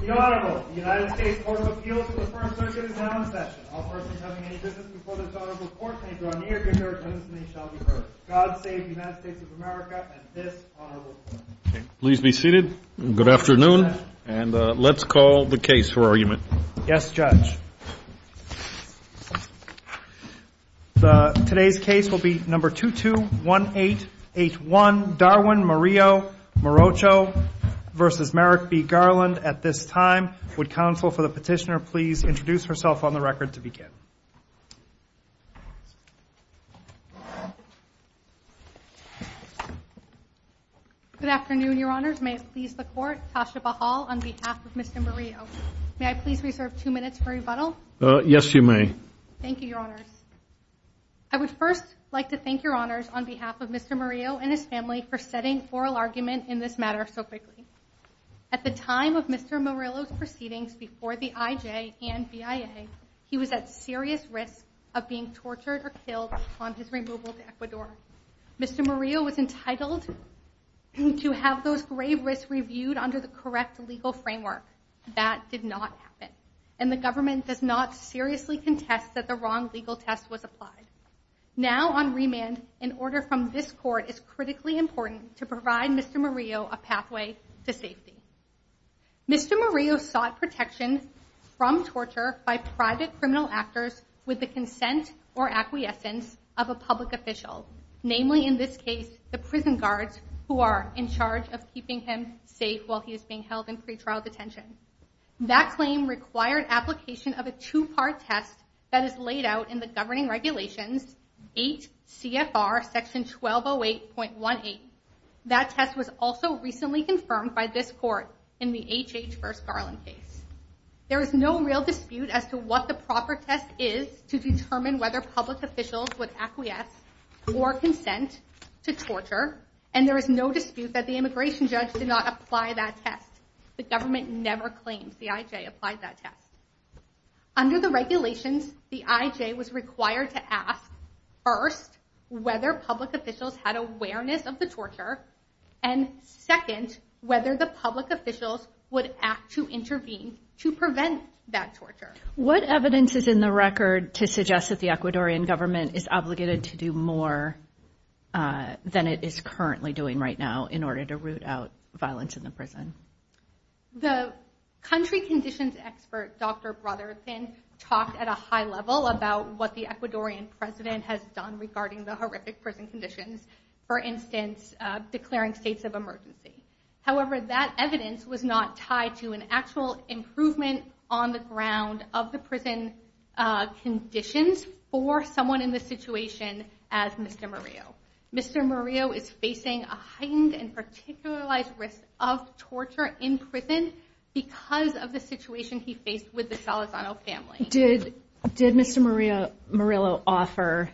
The Honorable, the United States Court of Appeals for the First Circuit is now in session. All persons having any business before this Honorable Court paper on New York and New York citizens shall be heard. God save the United States of America and this Honorable Court. Please be seated. Good afternoon, and let's call the case for argument. Yes, Judge. Today's case will be number 221881, Darwin Morillo Morocho v. Merrick B. Garland. At this time, would counsel for the petitioner please introduce herself on the record to begin. Good afternoon, Your Honors. May it please the Court, Tasha Bahal on behalf of Mr. Morillo. May I please reserve two minutes for rebuttal? Yes, you may. Thank you, Your Honors. I would first like to thank Your Honors on behalf of Mr. Morillo and his family for setting oral argument in this matter so quickly. At the time of Mr. Morillo's proceedings before the IJ and BIA, he was at serious risk of being tortured or killed upon his removal to Ecuador. Mr. Morillo was entitled to have those grave risks reviewed under the correct legal framework. That did not happen, and the government does not seriously contest that the wrong legal test was applied. Now on remand, an order from this Court is critically important to provide Mr. Morillo a pathway to safety. Mr. Morillo sought protection from torture by private criminal actors with the consent or acquiescence of a public official. Namely, in this case, the prison guards who are in charge of keeping him safe while he is being held in pretrial detention. That claim required application of a two-part test that is laid out in the governing regulations, 8 CFR section 1208.18. That test was also recently confirmed by this Court in the HH First Garland case. There is no real dispute as to what the proper test is to determine whether public officials would acquiesce or consent to torture, and there is no dispute that the immigration judge did not apply that test. The government never claims the IJ applied that test. Under the regulations, the IJ was required to ask, first, whether public officials had awareness of the torture, and second, whether the public officials would act to intervene to prevent that torture. What evidence is in the record to suggest that the Ecuadorian government is obligated to do more than it is currently doing right now in order to root out violence in the prison? The country conditions expert, Dr. Brotherton, talked at a high level about what the Ecuadorian president has done regarding the horrific prison conditions, for instance, declaring states of emergency. However, that evidence was not tied to an actual improvement on the ground of the prison conditions for someone in this situation as Mr. Murillo. Mr. Murillo is facing a heightened and particularized risk of torture in prison because of the situation he faced with the Salazano family. Did Mr. Murillo offer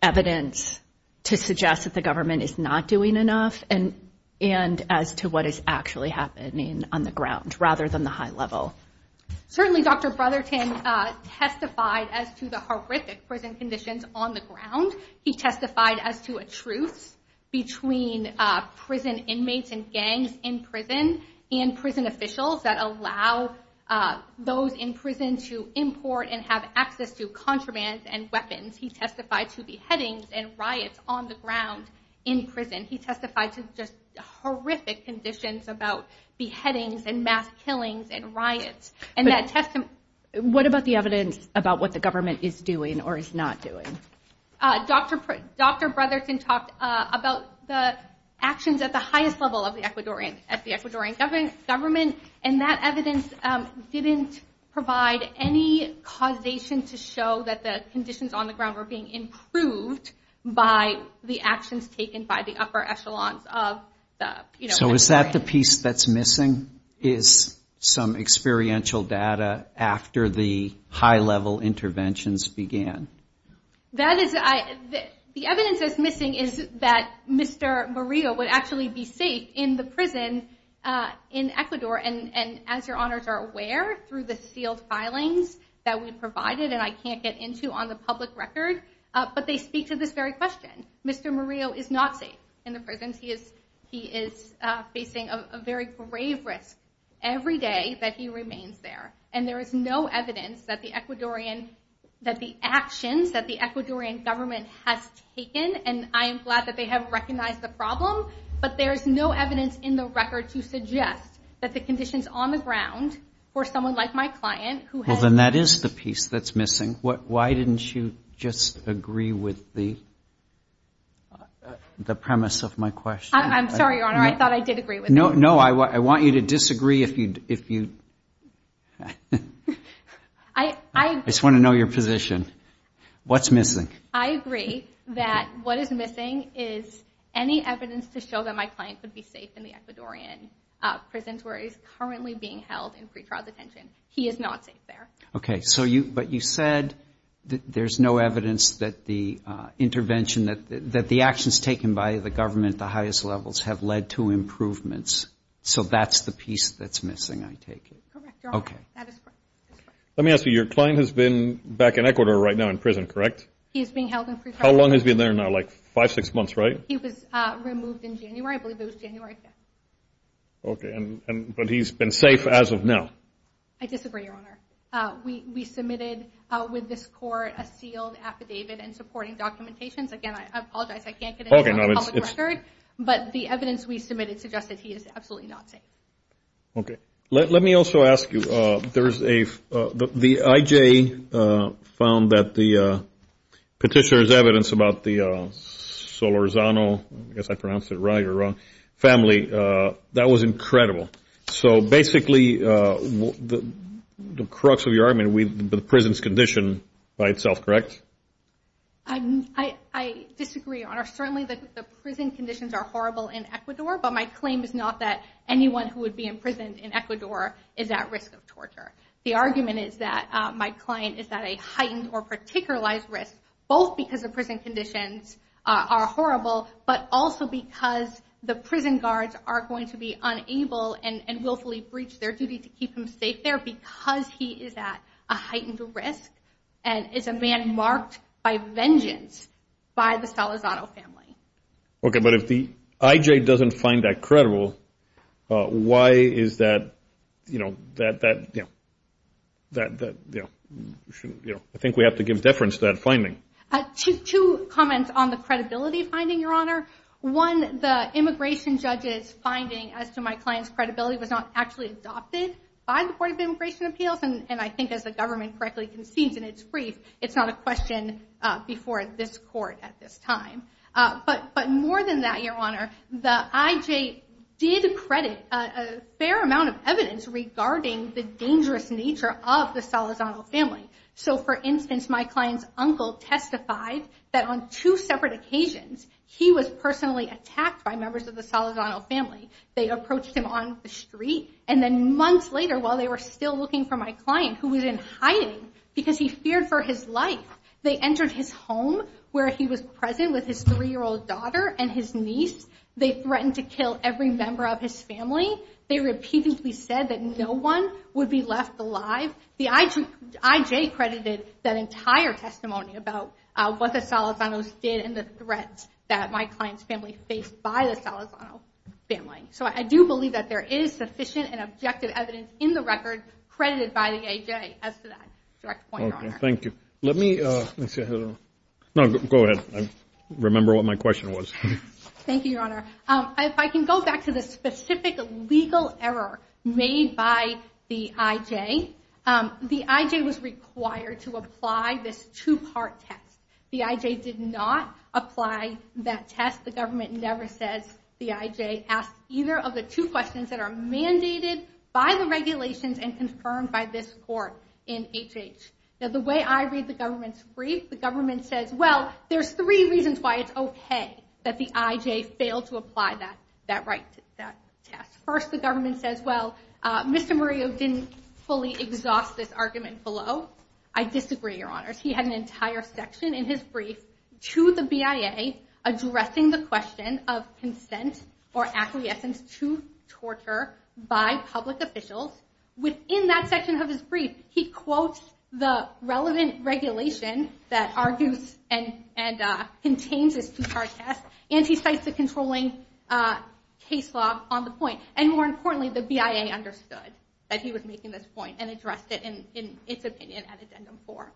evidence to suggest that the government is not doing enough, and as to what is actually happening on the ground, rather than the high level? Certainly, Dr. Brotherton testified as to the horrific prison conditions on the ground. He testified as to a truce between prison inmates and gangs in prison and prison officials that allow those in prison to import and have access to contraband and weapons. He testified to beheadings and riots on the ground in prison. He testified to just horrific conditions about beheadings and mass killings and riots. What about the evidence about what the government is doing or is not doing? Dr. Brotherton talked about the actions at the highest level of the Ecuadorian government, and that evidence didn't provide any causation to show that the conditions on the ground were being improved by the actions taken by the upper echelons of the Ecuadorian government. So is that the piece that's missing is some experiential data after the high level interventions began? The evidence that's missing is that Mr. Murillo would actually be safe in the prison in Ecuador, and as your honors are aware, through the sealed filings that we provided, and I can't get into on the public record, but they speak to this very question. Mr. Murillo is not safe in the prisons. He is facing a very grave risk every day that he remains there, and there is no evidence that the Ecuadorian, that the actions that the Ecuadorian government has taken, and I am glad that they have recognized the problem, but there is no evidence in the record to suggest that the conditions on the ground for someone like my client who has- The premise of my question- I'm sorry, your honor. I thought I did agree with you. No, I want you to disagree if you- I just want to know your position. What's missing? I agree that what is missing is any evidence to show that my client would be safe in the Ecuadorian prisons where he's currently being held in pretrial detention. He is not safe there. Okay, but you said that there's no evidence that the intervention, that the actions taken by the government at the highest levels have led to improvements, so that's the piece that's missing, I take it. Correct, your honor. That is correct. Let me ask you, your client has been back in Ecuador right now in prison, correct? He is being held in pretrial- How long has he been there now? Like five, six months, right? He was removed in January. I believe it was January 5th. Okay, but he's been safe as of now? I disagree, your honor. We submitted with this court a sealed affidavit in supporting documentations. Again, I apologize, I can't get into a public record, but the evidence we submitted suggests that he is absolutely not safe. Okay, let me also ask you, the IJ found that the petitioner's evidence about the Solorzano, I guess I pronounced it right or wrong, family, that was incredible. So basically, the crux of your argument, the prison's condition by itself, correct? I disagree, your honor. Certainly the prison conditions are horrible in Ecuador, but my claim is not that anyone who would be imprisoned in Ecuador is at risk of torture. The argument is that my client is at a heightened or particularized risk, both because the prison conditions are horrible, but also because the prison guards are going to be unable and willfully breach their duty to keep him safe there because he is at a heightened risk and is a man marked by vengeance by the Solorzano family. Okay, but if the IJ doesn't find that credible, why is that, you know, I think we have to give deference to that finding. Two comments on the credibility finding, your honor. One, the immigration judge's finding as to my client's credibility was not actually adopted by the Board of Immigration Appeals, and I think as the government correctly concedes in its brief, it's not a question before this court at this time. But more than that, your honor, the IJ did credit a fair amount of evidence regarding the dangerous nature of the Solorzano family. So, for instance, my client's uncle testified that on two separate occasions, he was personally attacked by members of the Solorzano family. They approached him on the street, and then months later, while they were still looking for my client, who was in hiding because he feared for his life. They entered his home where he was present with his three-year-old daughter and his niece. They threatened to kill every member of his family. They repeatedly said that no one would be left alive. The IJ credited that entire testimony about what the Solorzanos did and the threats that my client's family faced by the Solorzano family. So I do believe that there is sufficient and objective evidence in the record credited by the IJ as to that direct point, your honor. Okay, thank you. Let me see. No, go ahead. I remember what my question was. Thank you, your honor. If I can go back to the specific legal error made by the IJ, the IJ was required to apply this two-part test. The IJ did not apply that test. The government never says the IJ asked either of the two questions that are mandated by the regulations and confirmed by this court in HH. Now, the way I read the government's brief, the government says, well, there's three reasons why it's okay that the IJ failed to apply that test. First, the government says, well, Mr. Murillo didn't fully exhaust this argument below. I disagree, your honors. He had an entire section in his brief to the BIA addressing the question of consent or acquiescence to torture by public officials. Within that section of his brief, he quotes the relevant regulation that argues and contains this two-part test, and he cites the controlling case law on the point. And more importantly, the BIA understood that he was making this point and addressed it in its opinion at addendum four.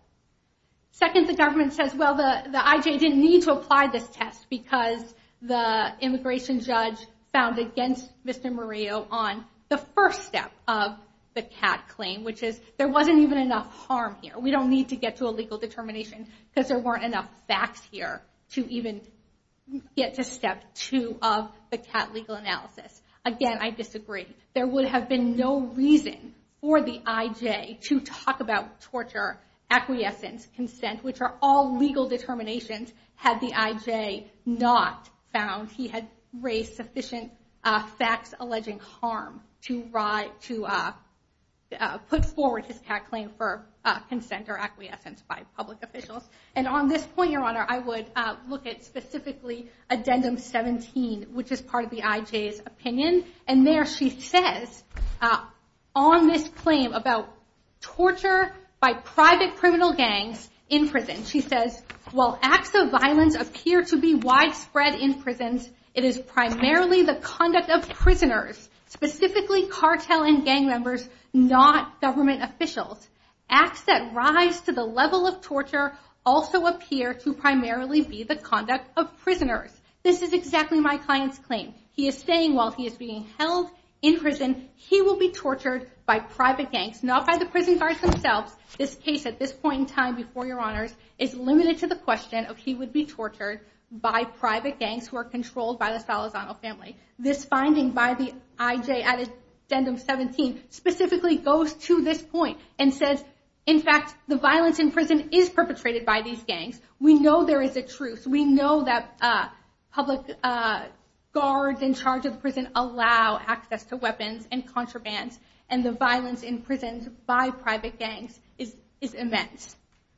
Second, the government says, well, the IJ didn't need to apply this test because the immigration judge found against Mr. Murillo on the first step of the CAT claim, which is there wasn't even enough harm here. We don't need to get to a legal determination because there weren't enough facts here to even get to step two of the CAT legal analysis. Again, I disagree. There would have been no reason for the IJ to talk about torture, acquiescence, consent, which are all legal determinations had the IJ not found he had raised sufficient facts alleging harm to put forward his CAT claim for consent or acquiescence by public officials. And on this point, your honor, I would look at specifically addendum 17, which is part of the IJ's opinion. And there she says on this claim about torture by private criminal gangs in prison, she says, well, acts of violence appear to be widespread in prisons. It is primarily the conduct of prisoners, specifically cartel and gang members, not government officials. Acts that rise to the level of torture also appear to primarily be the conduct of prisoners. This is exactly my client's claim. He is saying while he is being held in prison, he will be tortured by private gangs, not by the prison guards themselves. This case at this point in time before your honors is limited to the question of he would be tortured by private gangs who are controlled by the Salazano family. This finding by the IJ at addendum 17 specifically goes to this point and says, in fact, the violence in prison is perpetrated by these gangs. We know there is a truce. We know that public guards in charge of the prison allow access to weapons and contraband. And the violence in prisons by private gangs is immense.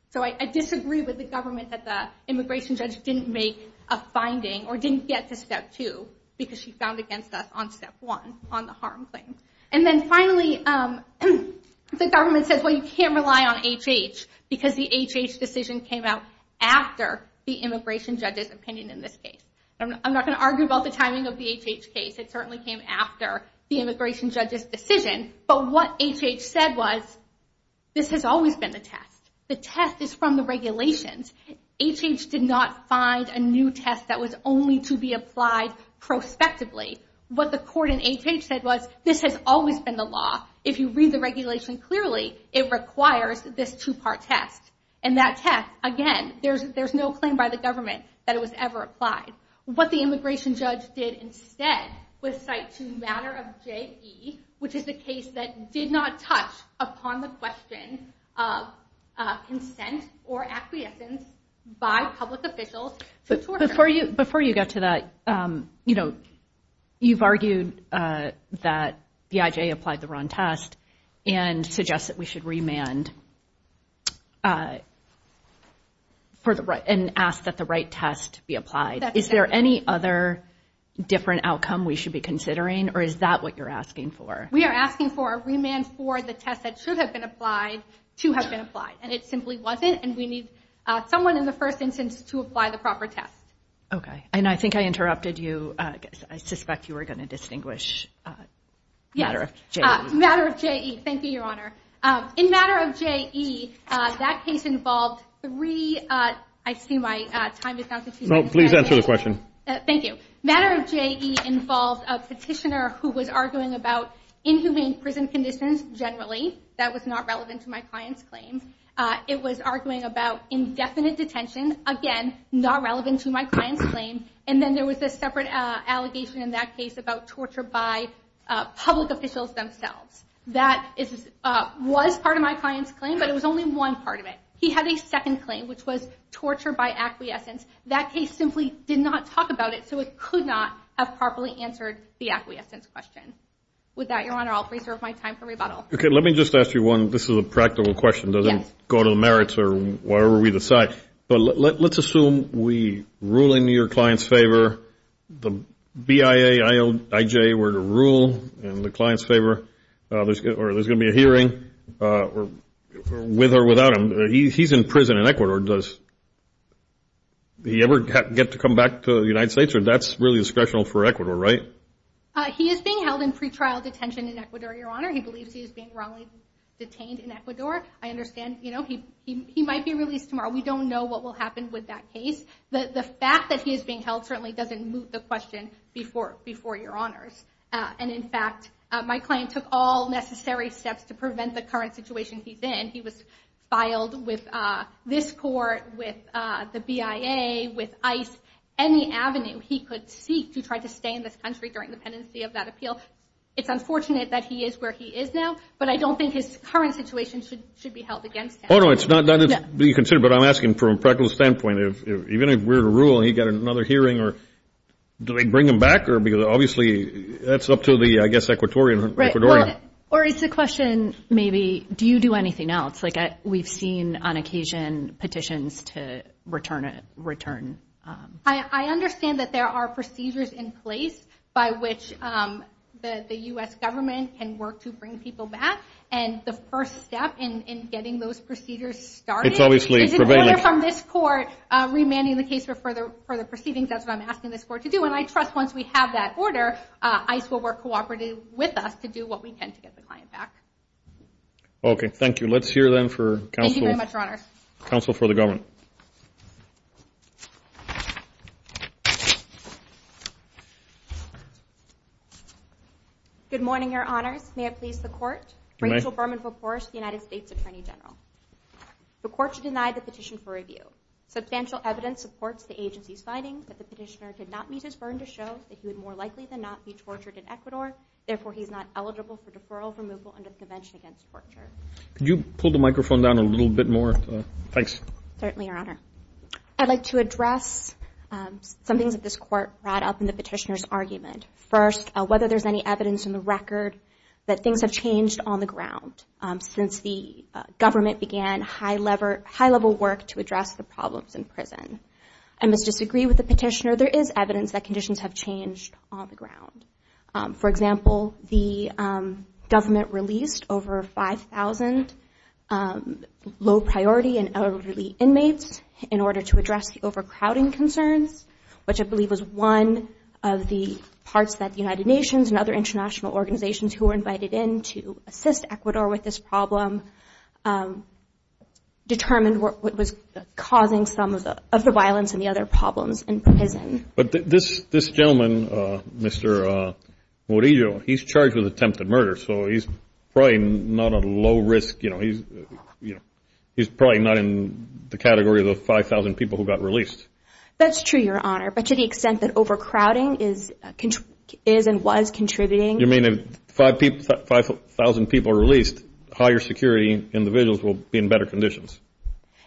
So I disagree with the government that the immigration judge didn't make a finding or didn't get to step two because she found against us on step one on the harm claim. And then finally, the government says, well, you can't rely on HH because the HH decision came out after the immigration judge's opinion in this case. I'm not going to argue about the timing of the HH case. It certainly came after the immigration judge's decision. But what HH said was, this has always been the test. The test is from the regulations. HH did not find a new test that was only to be applied prospectively. What the court in HH said was, this has always been the law. If you read the regulation clearly, it requires this two-part test. And that test, again, there's no claim by the government that it was ever applied. What the immigration judge did instead was cite to the matter of JE, which is the case that did not touch upon the question of consent or acquiescence by public officials to torture. Before you get to that, you've argued that BIJ applied the wrong test and suggests that we should remand and ask that the right test be applied. Is there any other different outcome we should be considering, or is that what you're asking for? We are asking for a remand for the test that should have been applied to have been applied. And it simply wasn't. And we need someone in the first instance to apply the proper test. Okay, and I think I interrupted you. I suspect you were going to distinguish matter of JE. Yes, matter of JE. Thank you, Your Honor. In matter of JE, that case involved three—I see my time is not— No, please answer the question. Thank you. Matter of JE involved a petitioner who was arguing about inhumane prison conditions generally. That was not relevant to my client's claim. It was arguing about indefinite detention. Again, not relevant to my client's claim. And then there was this separate allegation in that case about torture by public officials themselves. That was part of my client's claim, but it was only one part of it. He had a second claim, which was torture by acquiescence. That case simply did not talk about it, so it could not have properly answered the acquiescence question. With that, Your Honor, I'll preserve my time for rebuttal. Okay, let me just ask you one. This is a practical question. It doesn't go to the merits or whatever we decide. But let's assume we rule in your client's favor, the BIA, IJ were to rule in the client's favor, or there's going to be a hearing with or without him. He's in prison in Ecuador. Does he ever get to come back to the United States, or that's really discretional for Ecuador, right? He is being held in pretrial detention in Ecuador, Your Honor. He believes he is being wrongly detained in Ecuador. I understand he might be released tomorrow. We don't know what will happen with that case. The fact that he is being held certainly doesn't move the question before Your Honors. And, in fact, my client took all necessary steps to prevent the current situation he's in. He was filed with this court, with the BIA, with ICE, any avenue he could seek to try to stay in this country during the pendency of that appeal. It's unfortunate that he is where he is now, but I don't think his current situation should be held against him. Oh, no, it's not that it's being considered. But I'm asking from a practical standpoint. Even if we're to rule and he got another hearing, do they bring him back? Because obviously that's up to the, I guess, Ecuadorian. Right. Or it's a question maybe, do you do anything else? Like we've seen on occasion petitions to return. I understand that there are procedures in place by which the U.S. government can work to bring people back. And the first step in getting those procedures started is an order from this court remanding the case for further proceedings. That's what I'm asking this court to do. And I trust once we have that order, ICE will work cooperatively with us to do what we can to get the client back. Okay. Thank you. Let's hear then for counsel. Thank you very much, Your Honors. Counsel for the government. Good morning, Your Honors. May it please the Court? It may. Rachel Berman, United States Attorney General. The Court should deny the petition for review. Substantial evidence supports the agency's findings that the petitioner did not meet his burden to show that he would more likely than not be tortured in Ecuador. Therefore, he is not eligible for deferral removal under the Convention Against Torture. Could you pull the microphone down a little bit more? Thanks. Certainly, Your Honor. I'd like to address some things that this court brought up in the petitioner's argument. First, whether there's any evidence in the record that things have changed on the ground since the government began high-level work to address the problems in prison. I must disagree with the petitioner. There is evidence that conditions have changed on the ground. For example, the government released over 5,000 low-priority and elderly inmates in order to address the overcrowding concerns, which I believe was one of the parts that the United Nations and other international organizations who were invited in to assist Ecuador with this problem determined what was causing some of the violence and the other problems in prison. But this gentleman, Mr. Murillo, he's charged with attempted murder, so he's probably not at a low risk. He's probably not in the category of the 5,000 people who got released. That's true, Your Honor. But to the extent that overcrowding is and was contributing You mean if 5,000 people are released, higher security individuals will be in better conditions?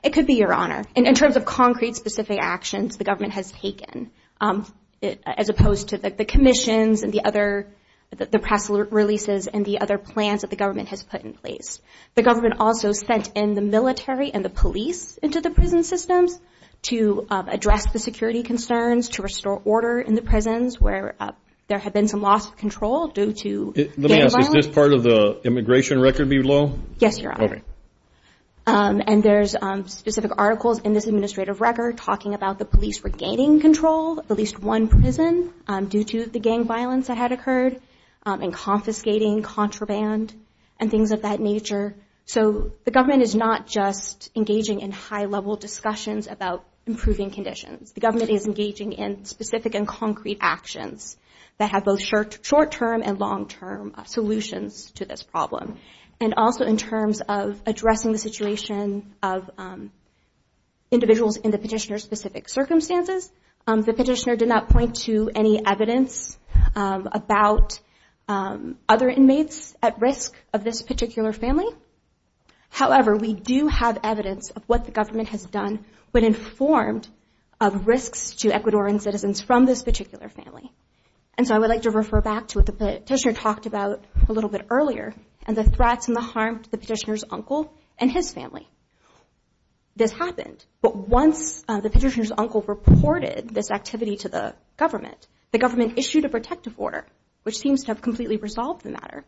It could be, Your Honor. In terms of concrete specific actions the government has taken as opposed to the commissions and the press releases and the other plans that the government has put in place. The government also sent in the military and the police into the prison systems to address the security concerns, to restore order in the prisons where there had been some loss of control due to gang violence. Let me ask, is this part of the immigration record below? Yes, Your Honor. Okay. And there's specific articles in this administrative record talking about the police regaining control of at least one prison due to the gang violence that had occurred and confiscating contraband and things of that nature. So the government is not just engaging in high-level discussions about improving conditions. The government is engaging in specific and concrete actions that have both short-term and long-term solutions to this problem. And also in terms of addressing the situation of individuals in the petitioner's specific circumstances. The petitioner did not point to any evidence about other inmates at risk of this particular family. However, we do have evidence of what the government has done when informed of risks to Ecuadorian citizens from this particular family. And so I would like to refer back to what the petitioner talked about a little bit earlier and the threats and the harm to the petitioner's uncle and his family. This happened, but once the petitioner's uncle reported this activity to the government, the government issued a protective order, which seems to have completely resolved the matter.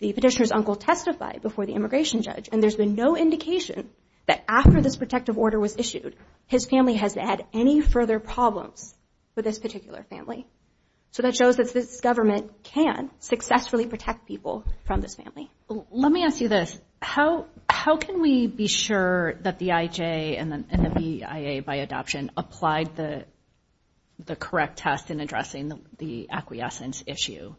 The petitioner's uncle testified before the immigration judge, and there's been no indication that after this protective order was issued, his family has had any further problems with this particular family. So that shows that this government can successfully protect people from this family. Let me ask you this. How can we be sure that the IJ and the BIA by adoption applied the correct test in addressing the acquiescence issue?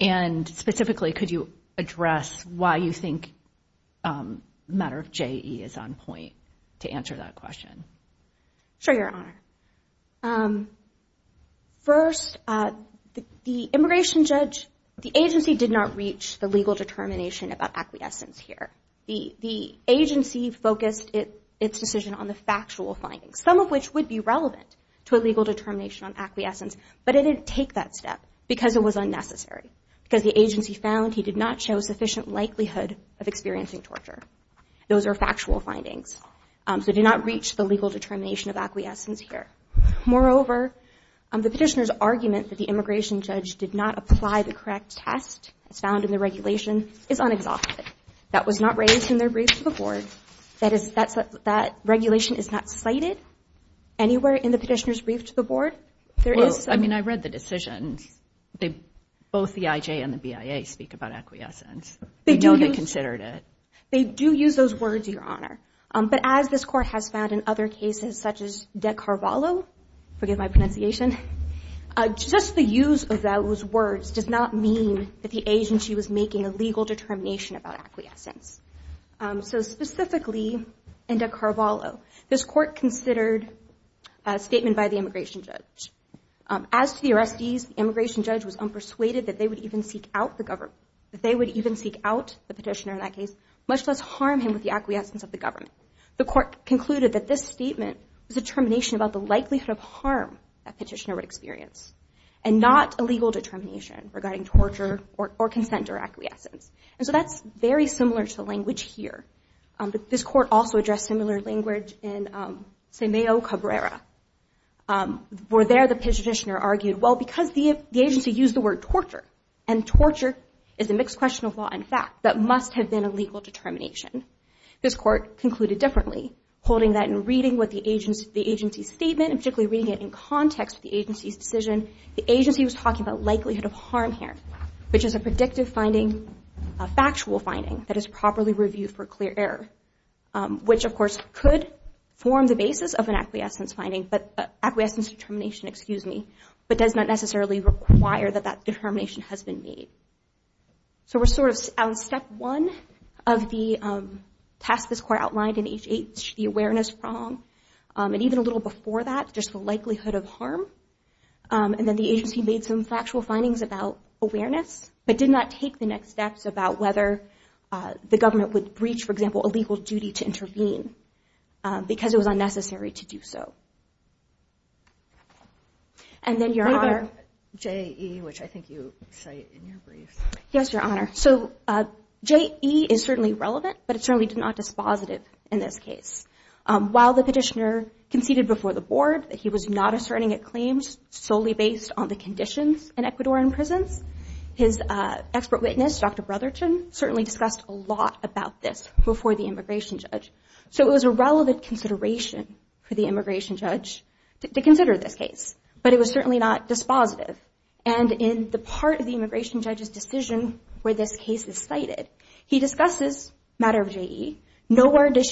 And specifically, could you address why you think the matter of JE is on point to answer that question? Sure, Your Honor. First, the immigration judge, the agency did not reach the legal determination about acquiescence here. The agency focused its decision on the factual findings, some of which would be relevant to a legal determination on acquiescence, but it didn't take that step because it was unnecessary, because the agency found he did not show sufficient likelihood of experiencing torture. Those are factual findings. So it did not reach the legal determination of acquiescence here. Moreover, the petitioner's argument that the immigration judge did not apply the correct test as found in the regulation is unexamined. That was not raised in their brief to the board. That regulation is not cited anywhere in the petitioner's brief to the board. I mean, I read the decision. Both the IJ and the BIA speak about acquiescence. They don't get considered it. They do use those words, Your Honor. But as this court has found in other cases such as De Carvalho, forgive my pronunciation, just the use of those words does not mean that the agency was making a legal determination about acquiescence. So specifically in De Carvalho, this court considered a statement by the immigration judge. As to the arrestees, the immigration judge was unpersuaded that they would even seek out the government, much less harm him with the acquiescence of the government. The court concluded that this statement was a determination about the likelihood of harm that petitioner would experience and not a legal determination regarding torture or consent or acquiescence. So that's very similar to the language here. This court also addressed similar language in Semeo Cabrera, where there the petitioner argued, well, because the agency used the word torture, and torture is a mixed question of law and fact, that must have been a legal determination. This court concluded differently, holding that in reading the agency's statement, and particularly reading it in context with the agency's decision, the agency was talking about likelihood of harm here, which is a predictive finding, a factual finding that is properly reviewed for clear error, which of course could form the basis of an acquiescence determination, but does not necessarily require that that determination has been made. So we're sort of on step one of the task this court outlined in HH, the awareness prong, and even a little before that, just the likelihood of harm, and then the agency made some factual findings about awareness, but did not take the next steps about whether the government would breach, for example, a legal duty to intervene because it was unnecessary to do so. And then your Honor. J.E., which I think you cite in your brief. Yes, Your Honor. So J.E. is certainly relevant, but it's certainly not dispositive in this case. While the petitioner conceded before the board that he was not asserting a claim solely based on the conditions in Ecuadorian prisons, his expert witness, Dr. Brotherton, certainly discussed a lot about this before the immigration judge. So it was a relevant consideration for the immigration judge to consider this case, but it was certainly not dispositive. And in the part of the immigration judge's decision where this case is cited, he discusses the matter of J.E., nor does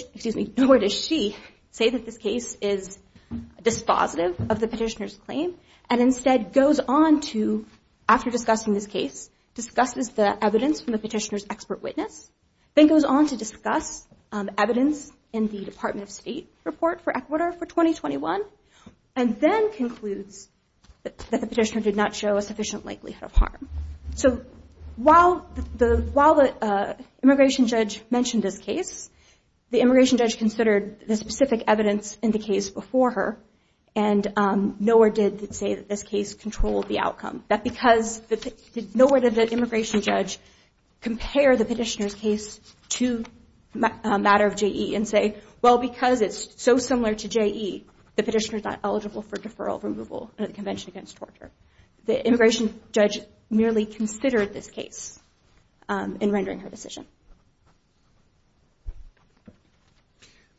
she say that this case is dispositive of the petitioner's claim, and instead goes on to, after discussing this case, discusses the evidence from the petitioner's expert witness, then goes on to discuss evidence in the Department of State report for Ecuador for 2021, and then concludes that the petitioner did not show a sufficient likelihood of harm. So while the immigration judge mentioned this case, the immigration judge considered the specific evidence in the case before her, and nor did it say that this case controlled the outcome. Nor did the immigration judge compare the petitioner's case to a matter of J.E. and say, well, because it's so similar to J.E., the petitioner's not eligible for deferral, removal, or the Convention Against Torture. The immigration judge merely considered this case in rendering her decision.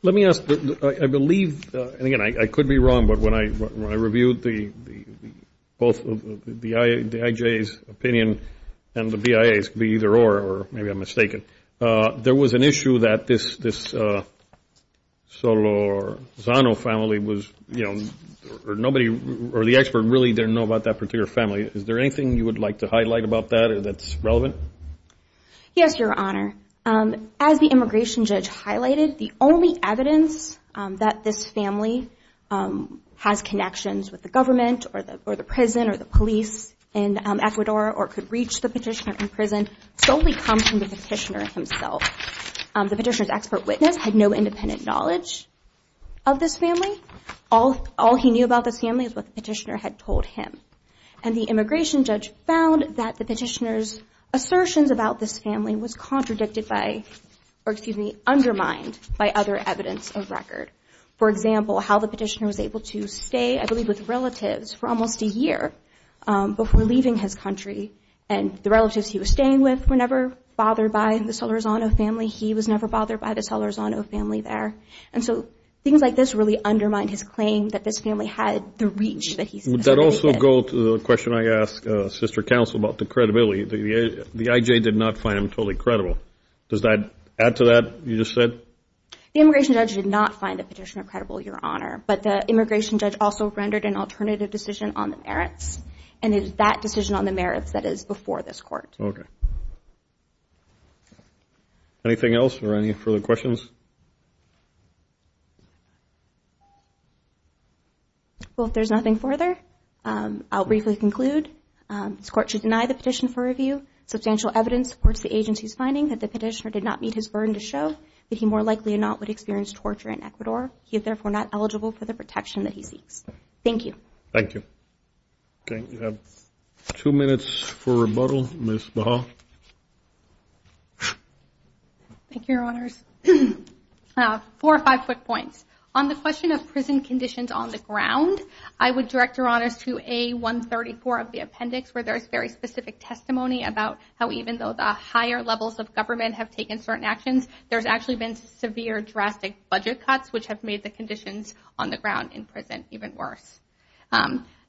Let me ask, I believe, and again, I could be wrong, but when I reviewed both the IJA's opinion and the BIA's, it could be either or, or maybe I'm mistaken. There was an issue that this Solorzano family was, you know, or the expert really didn't know about that particular family. Is there anything you would like to highlight about that that's relevant? Yes, Your Honor. As the immigration judge highlighted, the only evidence that this family has connections with the government or the prison or the police in Ecuador or could reach the petitioner in prison solely comes from the petitioner himself. The petitioner's expert witness had no independent knowledge of this family. All he knew about this family is what the petitioner had told him. And the immigration judge found that the petitioner's assertions about this family was contradicted by or, excuse me, undermined by other evidence of record. For example, how the petitioner was able to stay, I believe, with relatives for almost a year before leaving his country and the relatives he was staying with were never bothered by the Solorzano family. He was never bothered by the Solorzano family there. And so things like this really undermined his claim that this family had the reach that he said they did. Would that also go to the question I asked Sister Counsel about the credibility? The IJ did not find him totally credible. Does that add to that you just said? The immigration judge did not find the petitioner credible, Your Honor, but the immigration judge also rendered an alternative decision on the merits and it is that decision on the merits that is before this court. Okay. Anything else or any further questions? Well, if there's nothing further, I'll briefly conclude. This court should deny the petition for review. Substantial evidence supports the agency's finding that the petitioner did not meet his burden to show that he more likely or not would experience torture in Ecuador. He is therefore not eligible for the protection that he seeks. Thank you. Thank you. Okay. We have two minutes for rebuttal. Ms. Baha. Thank you, Your Honors. Four or five quick points. On the question of prison conditions on the ground, I would direct Your Honors to A134 of the appendix where there is very specific testimony about how even though the higher levels of government have taken certain actions, there's actually been severe drastic budget cuts, which have made the conditions on the ground in prison even worse.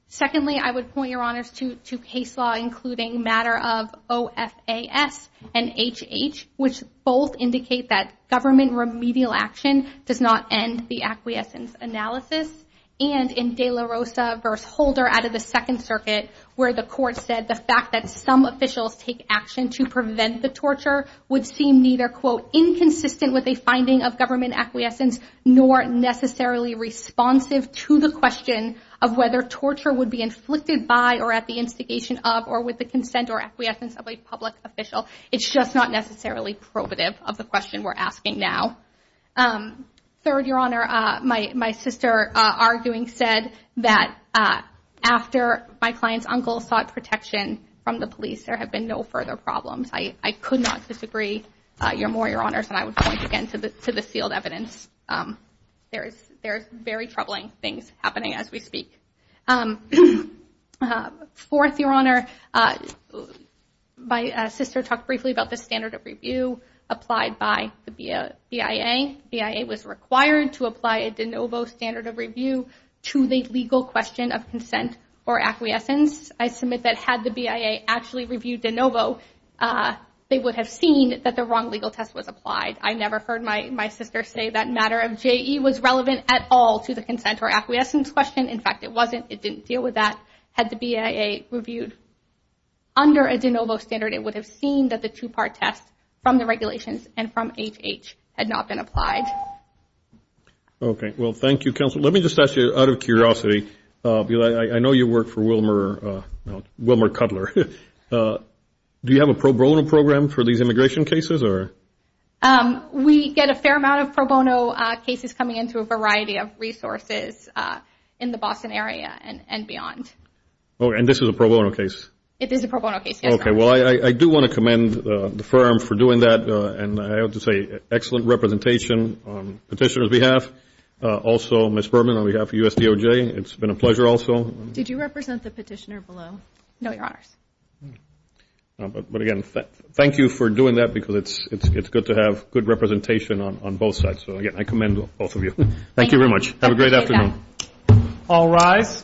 Secondly, I would point Your Honors to case law including matter of OFAS and HH, which both indicate that government remedial action does not end the acquiescence analysis, and in De La Rosa v. Holder out of the Second Circuit where the court said the fact that some officials take action to prevent the torture would seem neither, quote, inconsistent with a finding of government acquiescence nor necessarily responsive to the question of whether torture would be inflicted by or at the instigation of or with the consent or acquiescence of a public official. It's just not necessarily probative of the question we're asking now. Third, Your Honor, my sister arguing said that after my client's uncle sought protection from the police, there have been no further problems. I could not disagree more, Your Honors, and I would point again to the sealed evidence. There's very troubling things happening as we speak. Fourth, Your Honor, my sister talked briefly about the standard of review applied by the BIA. BIA was required to apply a de novo standard of review to the legal question of consent or acquiescence. I submit that had the BIA actually reviewed de novo, they would have seen that the wrong legal test was applied. I never heard my sister say that matter of JE was relevant at all to the consent or acquiescence question. In fact, it wasn't. It didn't deal with that. Had the BIA reviewed under a de novo standard, it would have seen that the two-part test from the regulations and from HH had not been applied. Okay. Well, thank you, Counselor. Let me just ask you, out of curiosity, I know you work for Wilmer Cutler. Do you have a pro bono program for these immigration cases? We get a fair amount of pro bono cases coming in through a variety of resources in the Boston area and beyond. Oh, and this is a pro bono case? It is a pro bono case, yes, Your Honor. Okay. Well, I do want to commend the firm for doing that, and I have to say excellent representation on petitioner's behalf. Also, Ms. Berman, on behalf of USDOJ, it's been a pleasure also. Did you represent the petitioner below? No, Your Honors. But, again, thank you for doing that because it's good to have good representation on both sides. So, again, I commend both of you. Thank you very much. Have a great afternoon. All rise.